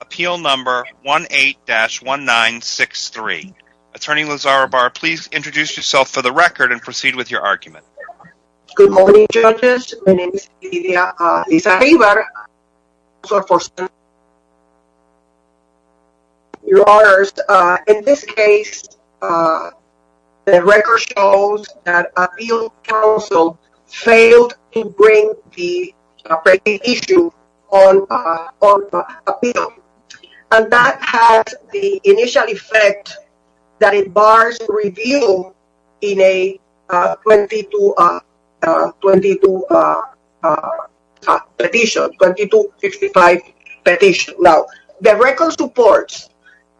appeal number 18-1963. Attorney Lizarrabar, please introduce yourself for the record and proceed with your argument. Good morning, judges. My name is Lydia Lizarrabar. In this case, the record shows that Appeal Council failed to bring the petition on appeal. And that has the initial effect that it bars review in a 2255 petition. Now, the record supports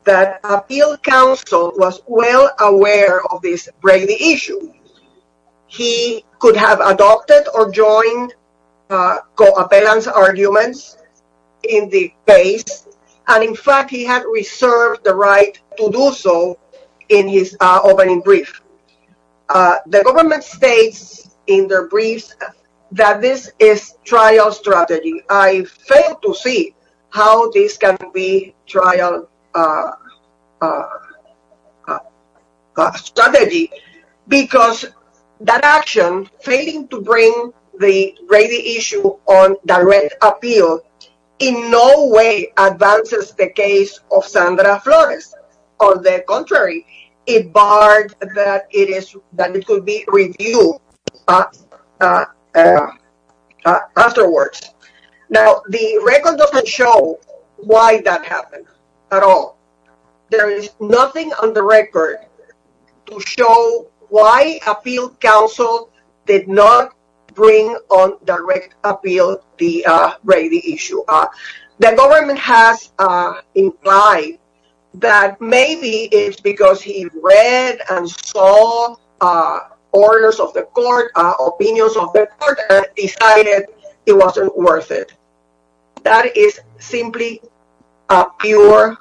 that Appeal Council was well aware of this breaking issue. He could have adopted or joined co-appellant's arguments in the case. And in fact, he had reserved the right to do so in his opening brief. The government states in their briefs that this is trial strategy. I failed to see how this can be trial strategy. Because that action, failing to bring the breaking issue on direct appeal, in no way advances the case of Sandra Flores. On the contrary, it barred that it could be reviewed afterwards. Now, the record doesn't show why that happened at all. There is nothing on the record to show why Appeal Council did not bring on direct appeal the breaking issue. The government has implied that maybe it's because he read and saw orders of the court, opinions of the court, and decided it wasn't worth it. That is simply pure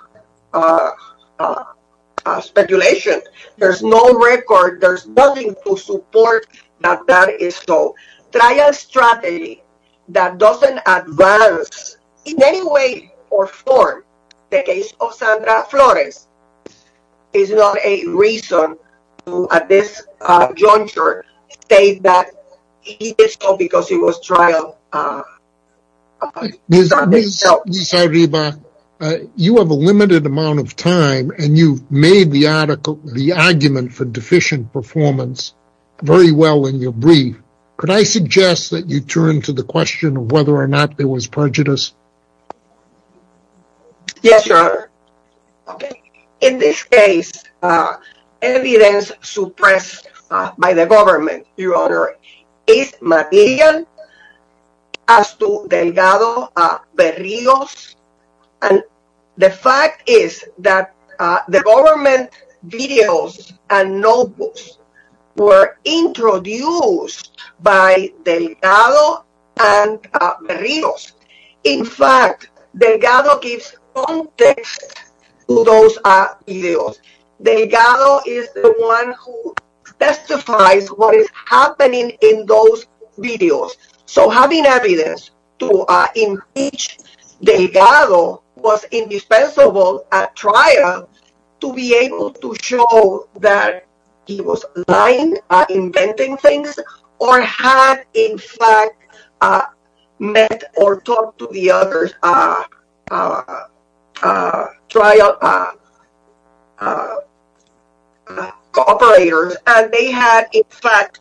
speculation. There's no record, there's nothing to support that that is so. Trial strategy that doesn't advance, in any way or form, the case of Sandra Flores is not a reason to, at this juncture, state that it is so because it was trial. Ms. Arriba, you have a limited amount of time, and you've made the argument for deficient performance very well in your brief. Could I suggest that you turn to the question of whether or not there was prejudice? Yes, Your Honor. In this case, evidence suppressed by the government, Your Honor, is material as to Delgado and Marinos. In fact, Delgado gives context to those videos. Delgado is the one who testifies what is happening in those videos. So having evidence to impeach Delgado was indispensable at trial to be able to, in fact, meet or talk to the other trial cooperators, and they had, in fact,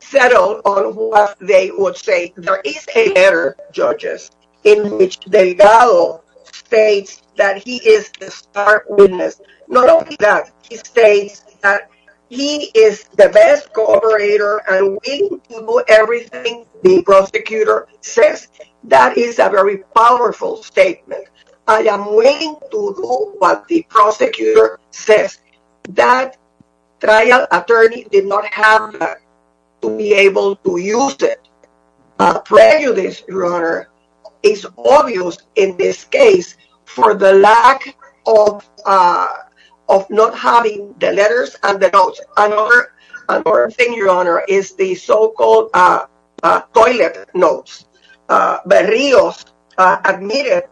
settled on what they would say. There is a letter, judges, in which Delgado states that he is the star witness. Not only that, he states that he is the best cooperator and will do everything the prosecutor says. That is a very powerful statement. I am willing to do what the prosecutor says. That trial attorney did not have to be able to use it. Prejudice, Your The letters and the notes. Another thing, Your Honor, is the so-called toilet notes. Berrios admitted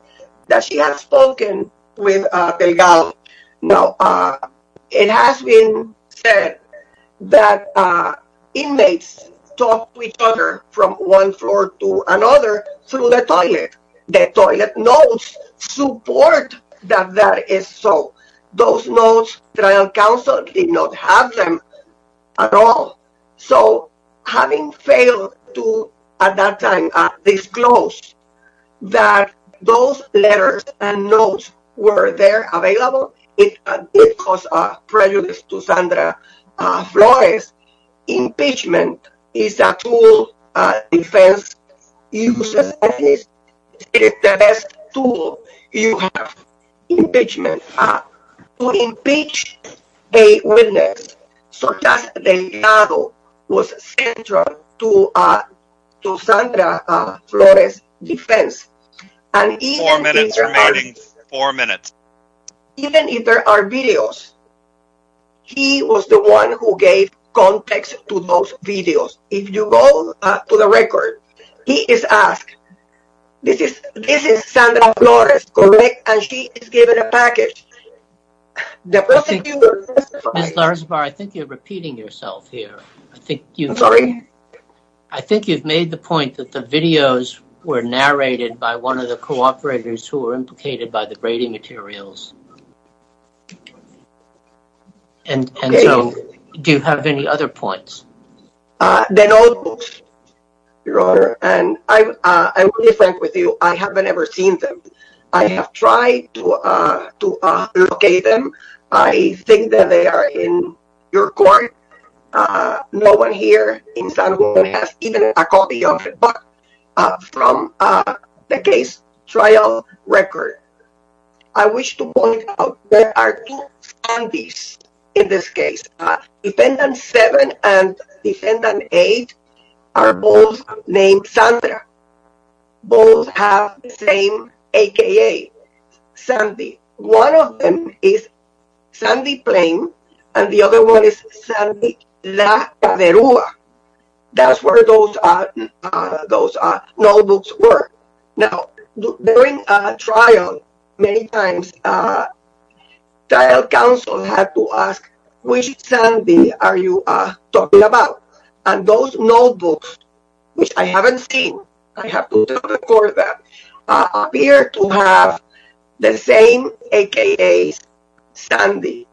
that she had spoken with Delgado. Now, it has been said that inmates talk to each other from one floor to another through the toilet. Delgado also did not have them at all. So, having failed to, at that time, disclose that those letters and notes were there, available, it caused prejudice to Sandra Flores. Impeachment is a tool defense uses. It is the best tool you have to impeach a witness. So, just Delgado was central to Sandra Flores' defense. Even if there are videos, he was the one who gave context to those videos. If you go to the record, he is asked, this is Sandra Flores, correct? And she is given a package. I think you are repeating yourself here. I think you have made the point that the videos were narrated by one of the cooperators who were implicated by the grading materials. And so, do you have any other points? The notebooks, Your Honor, and I will be frank with you. I have never seen them. I have tried to locate them. I think that they are in your court. No one here in San Juan has even a copy of it, but from the case trial record, I wish to point out that there are two defendants, both named Sandra. Both have the same a.k.a. Sandy. One of them is Sandy Plame, and the other one is Sandy La Caderua. That's where those notebooks were. Now, during a trial, many times, the trial counsel had to ask, which Sandy are you talking about? And those notebooks, which I haven't seen, I have to record them, appear to have the same a.k.a. Sandy.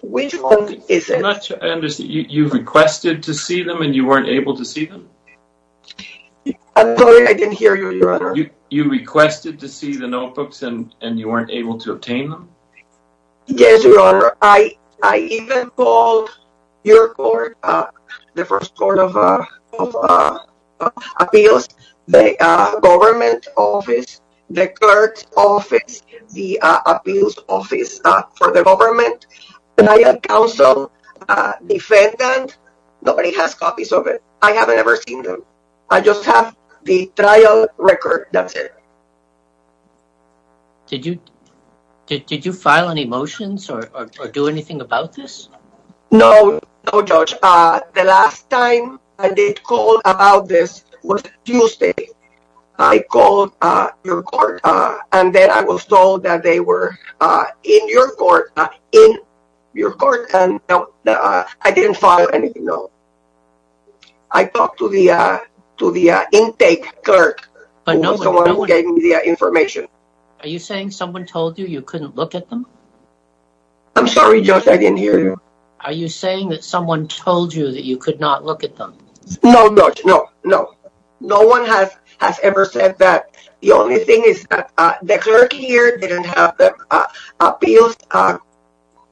Which one is it? I'm not sure I understand. You requested to see them, and you weren't able to see them? I'm sorry, I didn't hear you, Your Honor. You requested to see the notebooks, and you weren't able to obtain them? Yes, Your Honor. I even called your court, the first court of appeals, the government office, the clerk's office, the appeals office for the defendant. Nobody has copies of it. I haven't ever seen them. I just have the trial record. That's it. Did you file any motions or do anything about this? No, no, Judge. The last time I did call about this was Tuesday. I called your court, and then I was told that they were in your court, and I didn't file anything, no. I talked to the intake clerk, someone who gave me the information. Are you saying someone told you you couldn't look at them? I'm sorry, Judge, I didn't hear you. Are you saying that someone told you that you could not look at them? No, Judge, no, no. No one has ever said that. The only thing is that the clerk here didn't have the appeals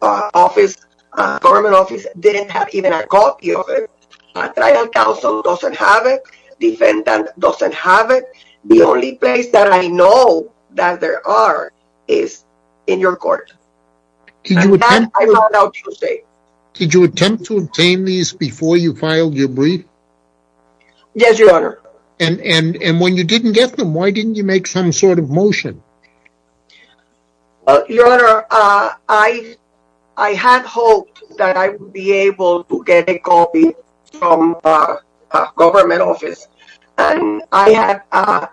office, the government office didn't have even a copy of it. Trial counsel doesn't have it. Defendant doesn't have it. The only place that I know that there are is in your court. Did you attempt to obtain these before you filed your brief? Yes, Your Honor. And when you didn't get them, why didn't you make some sort of motion? Your Honor, I had hoped that I would be able to get a copy from the government office, and I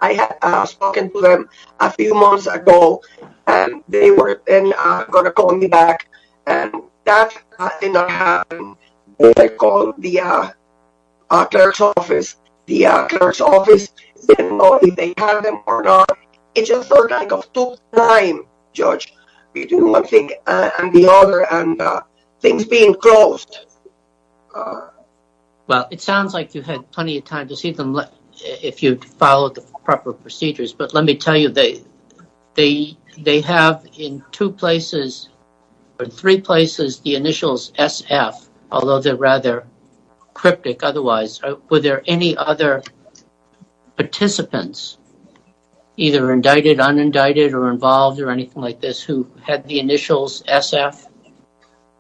had spoken to them a few months ago, and they were then going to call me back. And that did not happen. They called the clerk's office. The clerk's office didn't know if they had them or not. It just felt like it took time, Judge, between one thing and the other, and things being closed. Well, it sounds like you had plenty of time to see them if you followed the proper procedures, but let me tell you, they have in two places, or three places, the initials SF, although they're rather cryptic otherwise. Were there any other participants, either indicted, unindicted, or involved, or anything like this, who had the initials SF?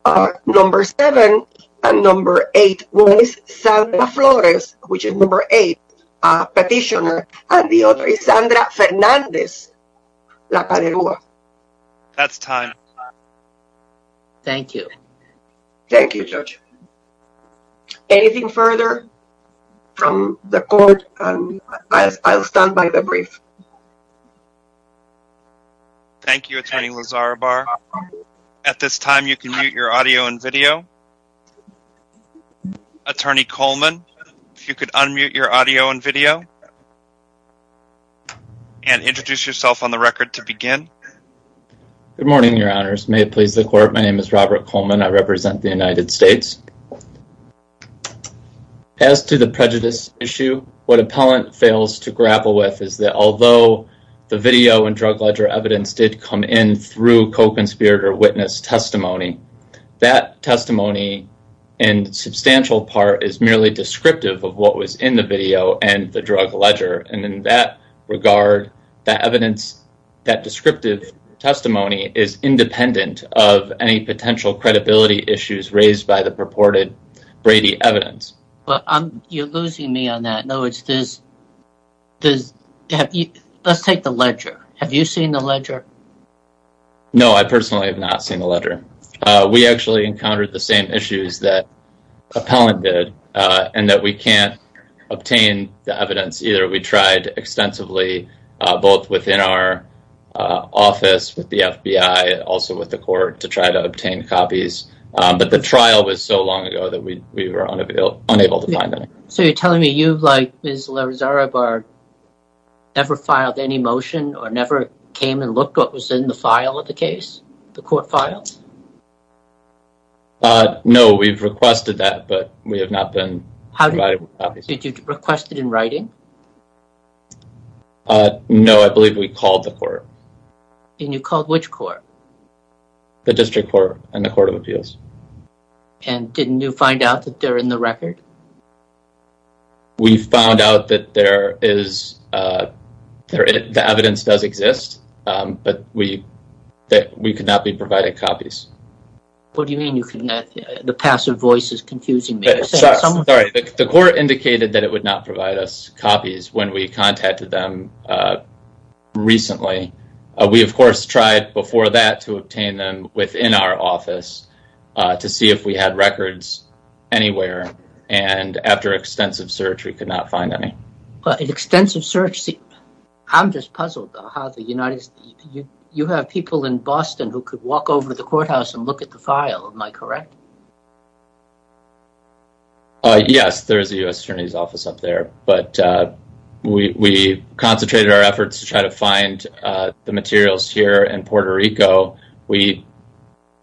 No. 7 and No. 8 was Sandra Flores, which is No. 8, a petitioner, and the other is Sandra Fernandez, La Paderua. That's time. Thank you. Thank you, Judge. Anything further from the court? I'll stand by the brief. Thank you, Attorney Lazarobar. At this time, you can mute your audio and video. Attorney Coleman, if you could unmute your audio and video, and introduce yourself on the record to begin. Good morning, Your Honors. May it please the court, my name is Robert Coleman. I represent the United States. As to the prejudice issue, what appellant fails to grapple with is that although the video and drug ledger evidence did come in through co-conspirator witness testimony, that testimony, in substantial part, is merely descriptive of what was in the video and the drug ledger. And in that regard, that evidence, that descriptive testimony is independent of any potential credibility issues raised by the purported Brady evidence. You're losing me on that. Let's take the ledger. Have you seen the ledger? No, I personally have not seen the ledger. We actually encountered the same issues that appellant did, and that we can't obtain the evidence either. We tried extensively, both within our office with the FBI, also with the court, to try to obtain copies. But the trial was so long ago that we were unable to find any. So you're telling me you, like Ms. Larizarabar, never filed any motion or never came and looked at what was in the file of the case, the court files? No, we've requested that, but we have not been provided copies. Did you request it in writing? No, I believe we called the court. And you called which court? The District Court and the Court of Appeals. And didn't you find out that they're in the record? We found out that the evidence does exist, but we could not be provided copies. What do you mean? The passive voice is confusing me. Sorry, the court indicated that it would not provide us copies when we contacted them recently. We, of course, tried before that to obtain them within our office to see if we had records anywhere. And after extensive search, we could not find any. But extensive search? I'm just puzzled how the United States... You have people in Boston who could walk over to the courthouse and look at the file, am I correct? Yes, there is a U.S. Attorney's Office up there. But we concentrated our efforts to try to find the materials here in Puerto Rico. We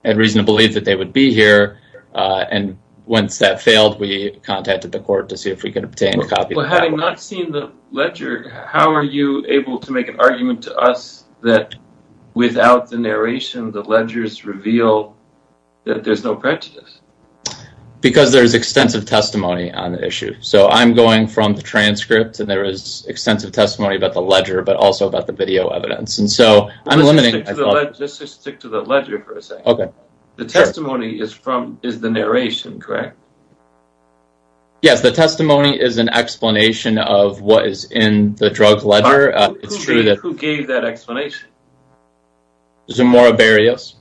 had reason to believe that they would be here. And once that failed, we contacted the court to see if we could obtain a copy. Well, having not seen the ledger, how are you able to make an argument to us that without the narration, the ledgers reveal that there's no prejudice? Because there's extensive testimony on the issue. So I'm going from the transcript, and there is extensive testimony about the ledger, but also about the video evidence. Just stick to the ledger for a second. The testimony is the narration, correct? Yes, the testimony is an explanation of what is in the drug ledger. Who gave that explanation? Zamora Berrios.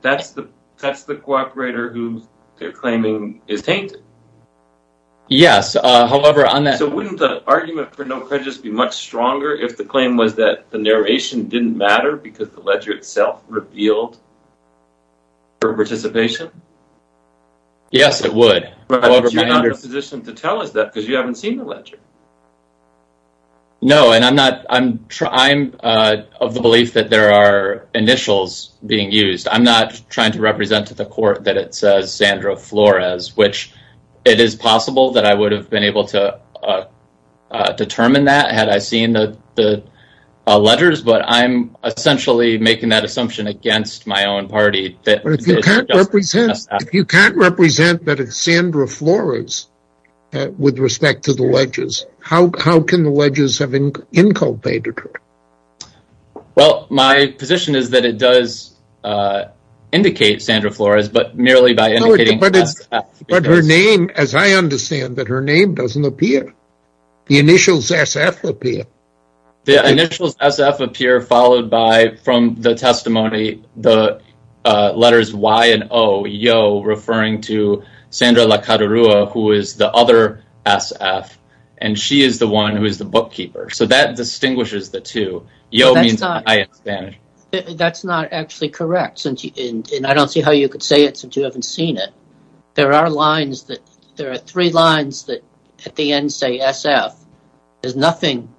That's the cooperator who they're claiming is tainted? Yes. So wouldn't the argument for no prejudice be much stronger if the claim was that the narration didn't matter because the ledger itself revealed participation? Yes, it would. But you're not in a position to tell us that because you haven't seen the ledger. No, and I'm of the belief that there are initials being used. I'm not trying to represent to the court that it says Sandra Flores, which it is possible that I would have been able to determine that had I seen the ledgers. But I'm essentially making that assumption against my own party. But if you can't represent that it's Sandra Flores with respect to the ledgers, how can the ledgers have inculpated her? Well, my position is that it does indicate Sandra Flores, but merely by indicating S.F. But her name, as I understand, her name doesn't appear. The initials S.F. appear. The initials S.F. appear followed by, from the testimony, the letters Y and O, referring to Sandra LaCadarua, who is the other S.F., and she is the one who is the bookkeeper. So that distinguishes the two. Yo means I in Spanish. That's not actually correct, and I don't see how you could say it since you haven't seen it. There are lines that, there are three lines that at the end say S.F. There's nothing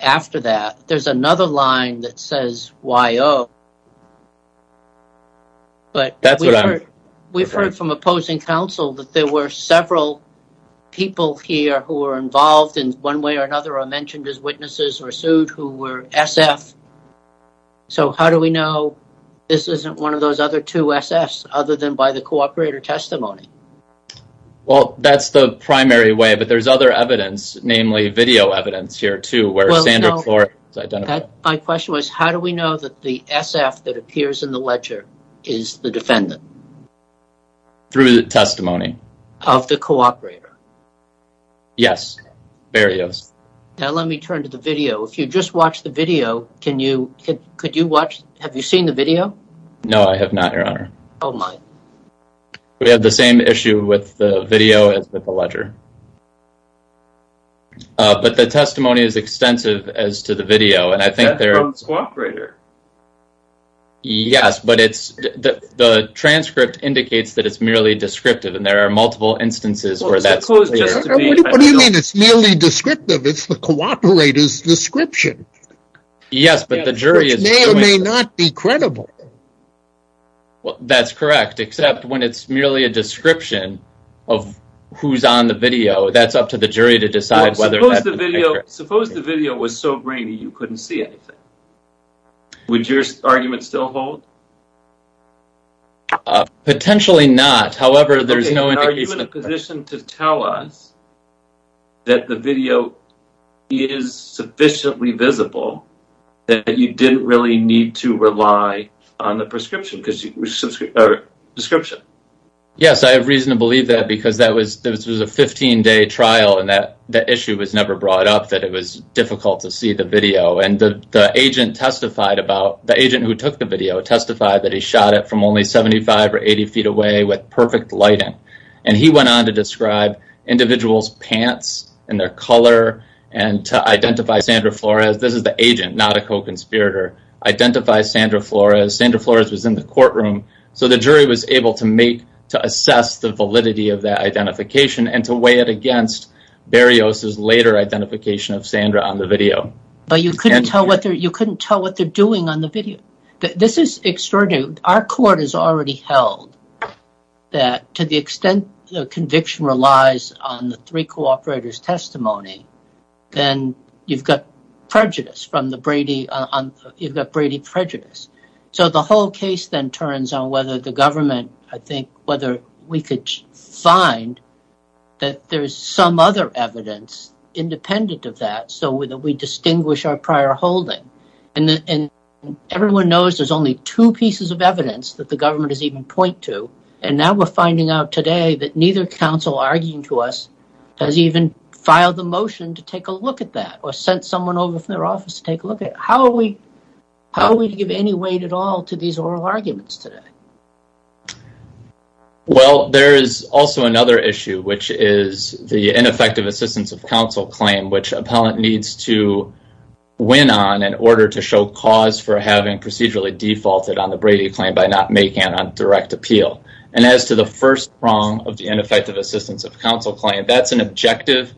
after that. There's another line that says Y.O. But we've heard from opposing counsel that there were several people here who were involved in one way or another or mentioned as witnesses or sued who were S.F. So how do we know this isn't one of those other two S.F.s other than by the cooperator testimony? Well, that's the primary way, but there's other evidence, namely video evidence here too, where Sandra Flores is identified. My question was, how do we know that the S.F. that appears in the ledger is the defendant? Through the testimony. Of the cooperator? Yes. Now let me turn to the video. If you just watched the video, can you, could you watch, have you seen the video? No, I have not, Your Honor. Oh, my. We have the same issue with the video as with the ledger. But the testimony is extensive as to the video. That's from the cooperator. Yes, but it's, the transcript indicates that it's merely descriptive and there are multiple instances where that's clear. What do you mean it's merely descriptive? It's the cooperator's description. Yes, but the jury is. Which may or may not be credible. Well, that's correct, except when it's merely a description of who's on the video, that's up to the jury to decide whether. Suppose the video was so grainy you couldn't see anything. Would your argument still hold? Potentially not. However, there's no indication. Are you in a position to tell us that the video is sufficiently visible that you didn't really need to rely on the description? Yes, I have reason to believe that because that was a 15 day trial and that issue was never brought up that it was difficult to see the video. And the agent testified about, the agent who took the video testified that he shot it from only 75 or 80 feet away with perfect lighting. And he went on to describe individual's pants and their color and to identify Sandra Flores. This is the agent, not a co-conspirator. Identify Sandra Flores. Sandra Flores was in the courtroom. So the jury was able to make, to assess the validity of that identification and to weigh it against Berrios' later identification of Sandra on the video. But you couldn't tell what they're doing on the video. This is extraordinary. Our court has already held that to the extent the conviction relies on the three cooperators' testimony, then you've got prejudice. You've got Brady prejudice. So the whole case then turns on whether the government, I think, whether we could find that there's some other evidence independent of that so that we distinguish our prior holding. And everyone knows there's only two pieces of evidence that the government has even pointed to. And now we're finding out today that neither counsel arguing to us has even filed a motion to take a look at that or sent someone over from their office to take a look at it. How are we to give any weight at all to these oral arguments today? Well, there is also another issue, which is the ineffective assistance of counsel claim, which appellant needs to win on in order to show cause for having procedurally defaulted on the Brady claim by not making it on direct appeal. And as to the first wrong of the ineffective assistance of counsel claim, that's an objective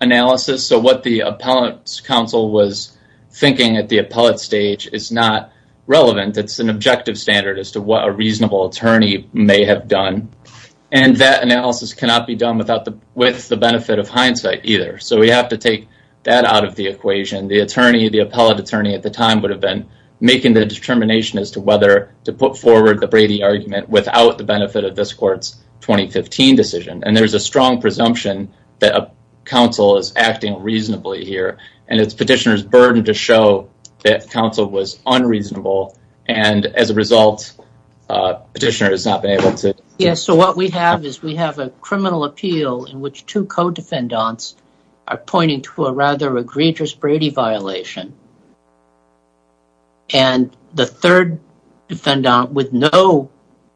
analysis. So what the appellant's counsel was thinking at the appellate stage is not relevant. It's an objective standard as to what a reasonable attorney may have done. And that analysis cannot be done with the benefit of hindsight either. So we have to take that out of the equation. The attorney, the appellate attorney at the time, would have been making the determination as to whether to put forward the Brady argument without the benefit of this court's 2015 decision. And there's a strong presumption that counsel is acting reasonably here. And it's petitioner's burden to show that counsel was unreasonable. And as a result, petitioner has not been able to... Yes, so what we have is we have a criminal appeal in which two co-defendants are pointing to a rather egregious Brady violation. And the third defendant, with no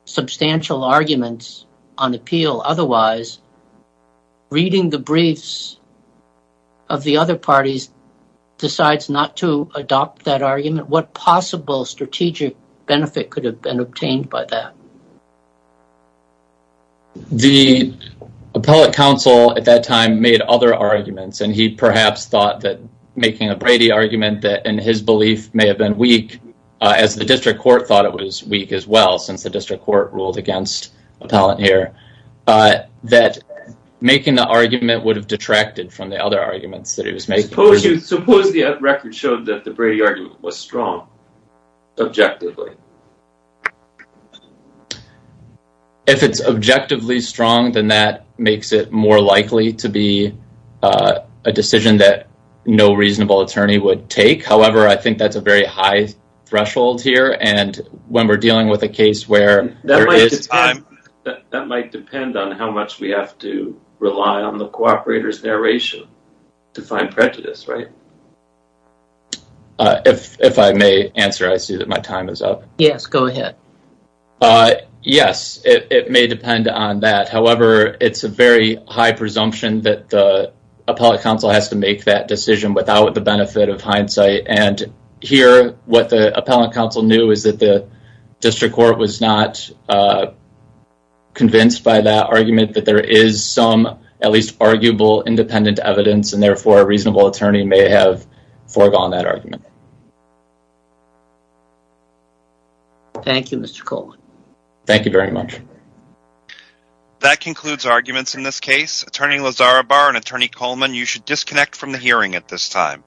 substantial arguments on appeal otherwise, reading the briefs of the other parties decides not to adopt that argument. What possible strategic benefit could have been obtained by that? The appellate counsel at that time made other arguments. And he perhaps thought that making a Brady argument that, in his belief, may have been weak. As the district court thought it was weak as well, since the district court ruled against appellant here. That making the argument would have detracted from the other arguments that he was making. Suppose the record showed that the Brady argument was strong, objectively. If it's objectively strong, then that makes it more likely to be a decision that no reasonable attorney would take. However, I think that's a very high threshold here. And when we're dealing with a case where... That might depend on how much we have to rely on the cooperator's narration to find prejudice, right? If I may answer, I see that my time is up. Yes, go ahead. Yes, it may depend on that. However, it's a very high presumption that the appellate counsel has to make that decision without the benefit of hindsight. And here, what the appellate counsel knew is that the district court was not convinced by that argument. That there is some, at least arguable, independent evidence. And therefore, a reasonable attorney may have foregone that argument. Thank you, Mr. Coleman. Thank you very much. That concludes arguments in this case. Attorney Lazarabar and Attorney Coleman, you should disconnect from the hearing at this time.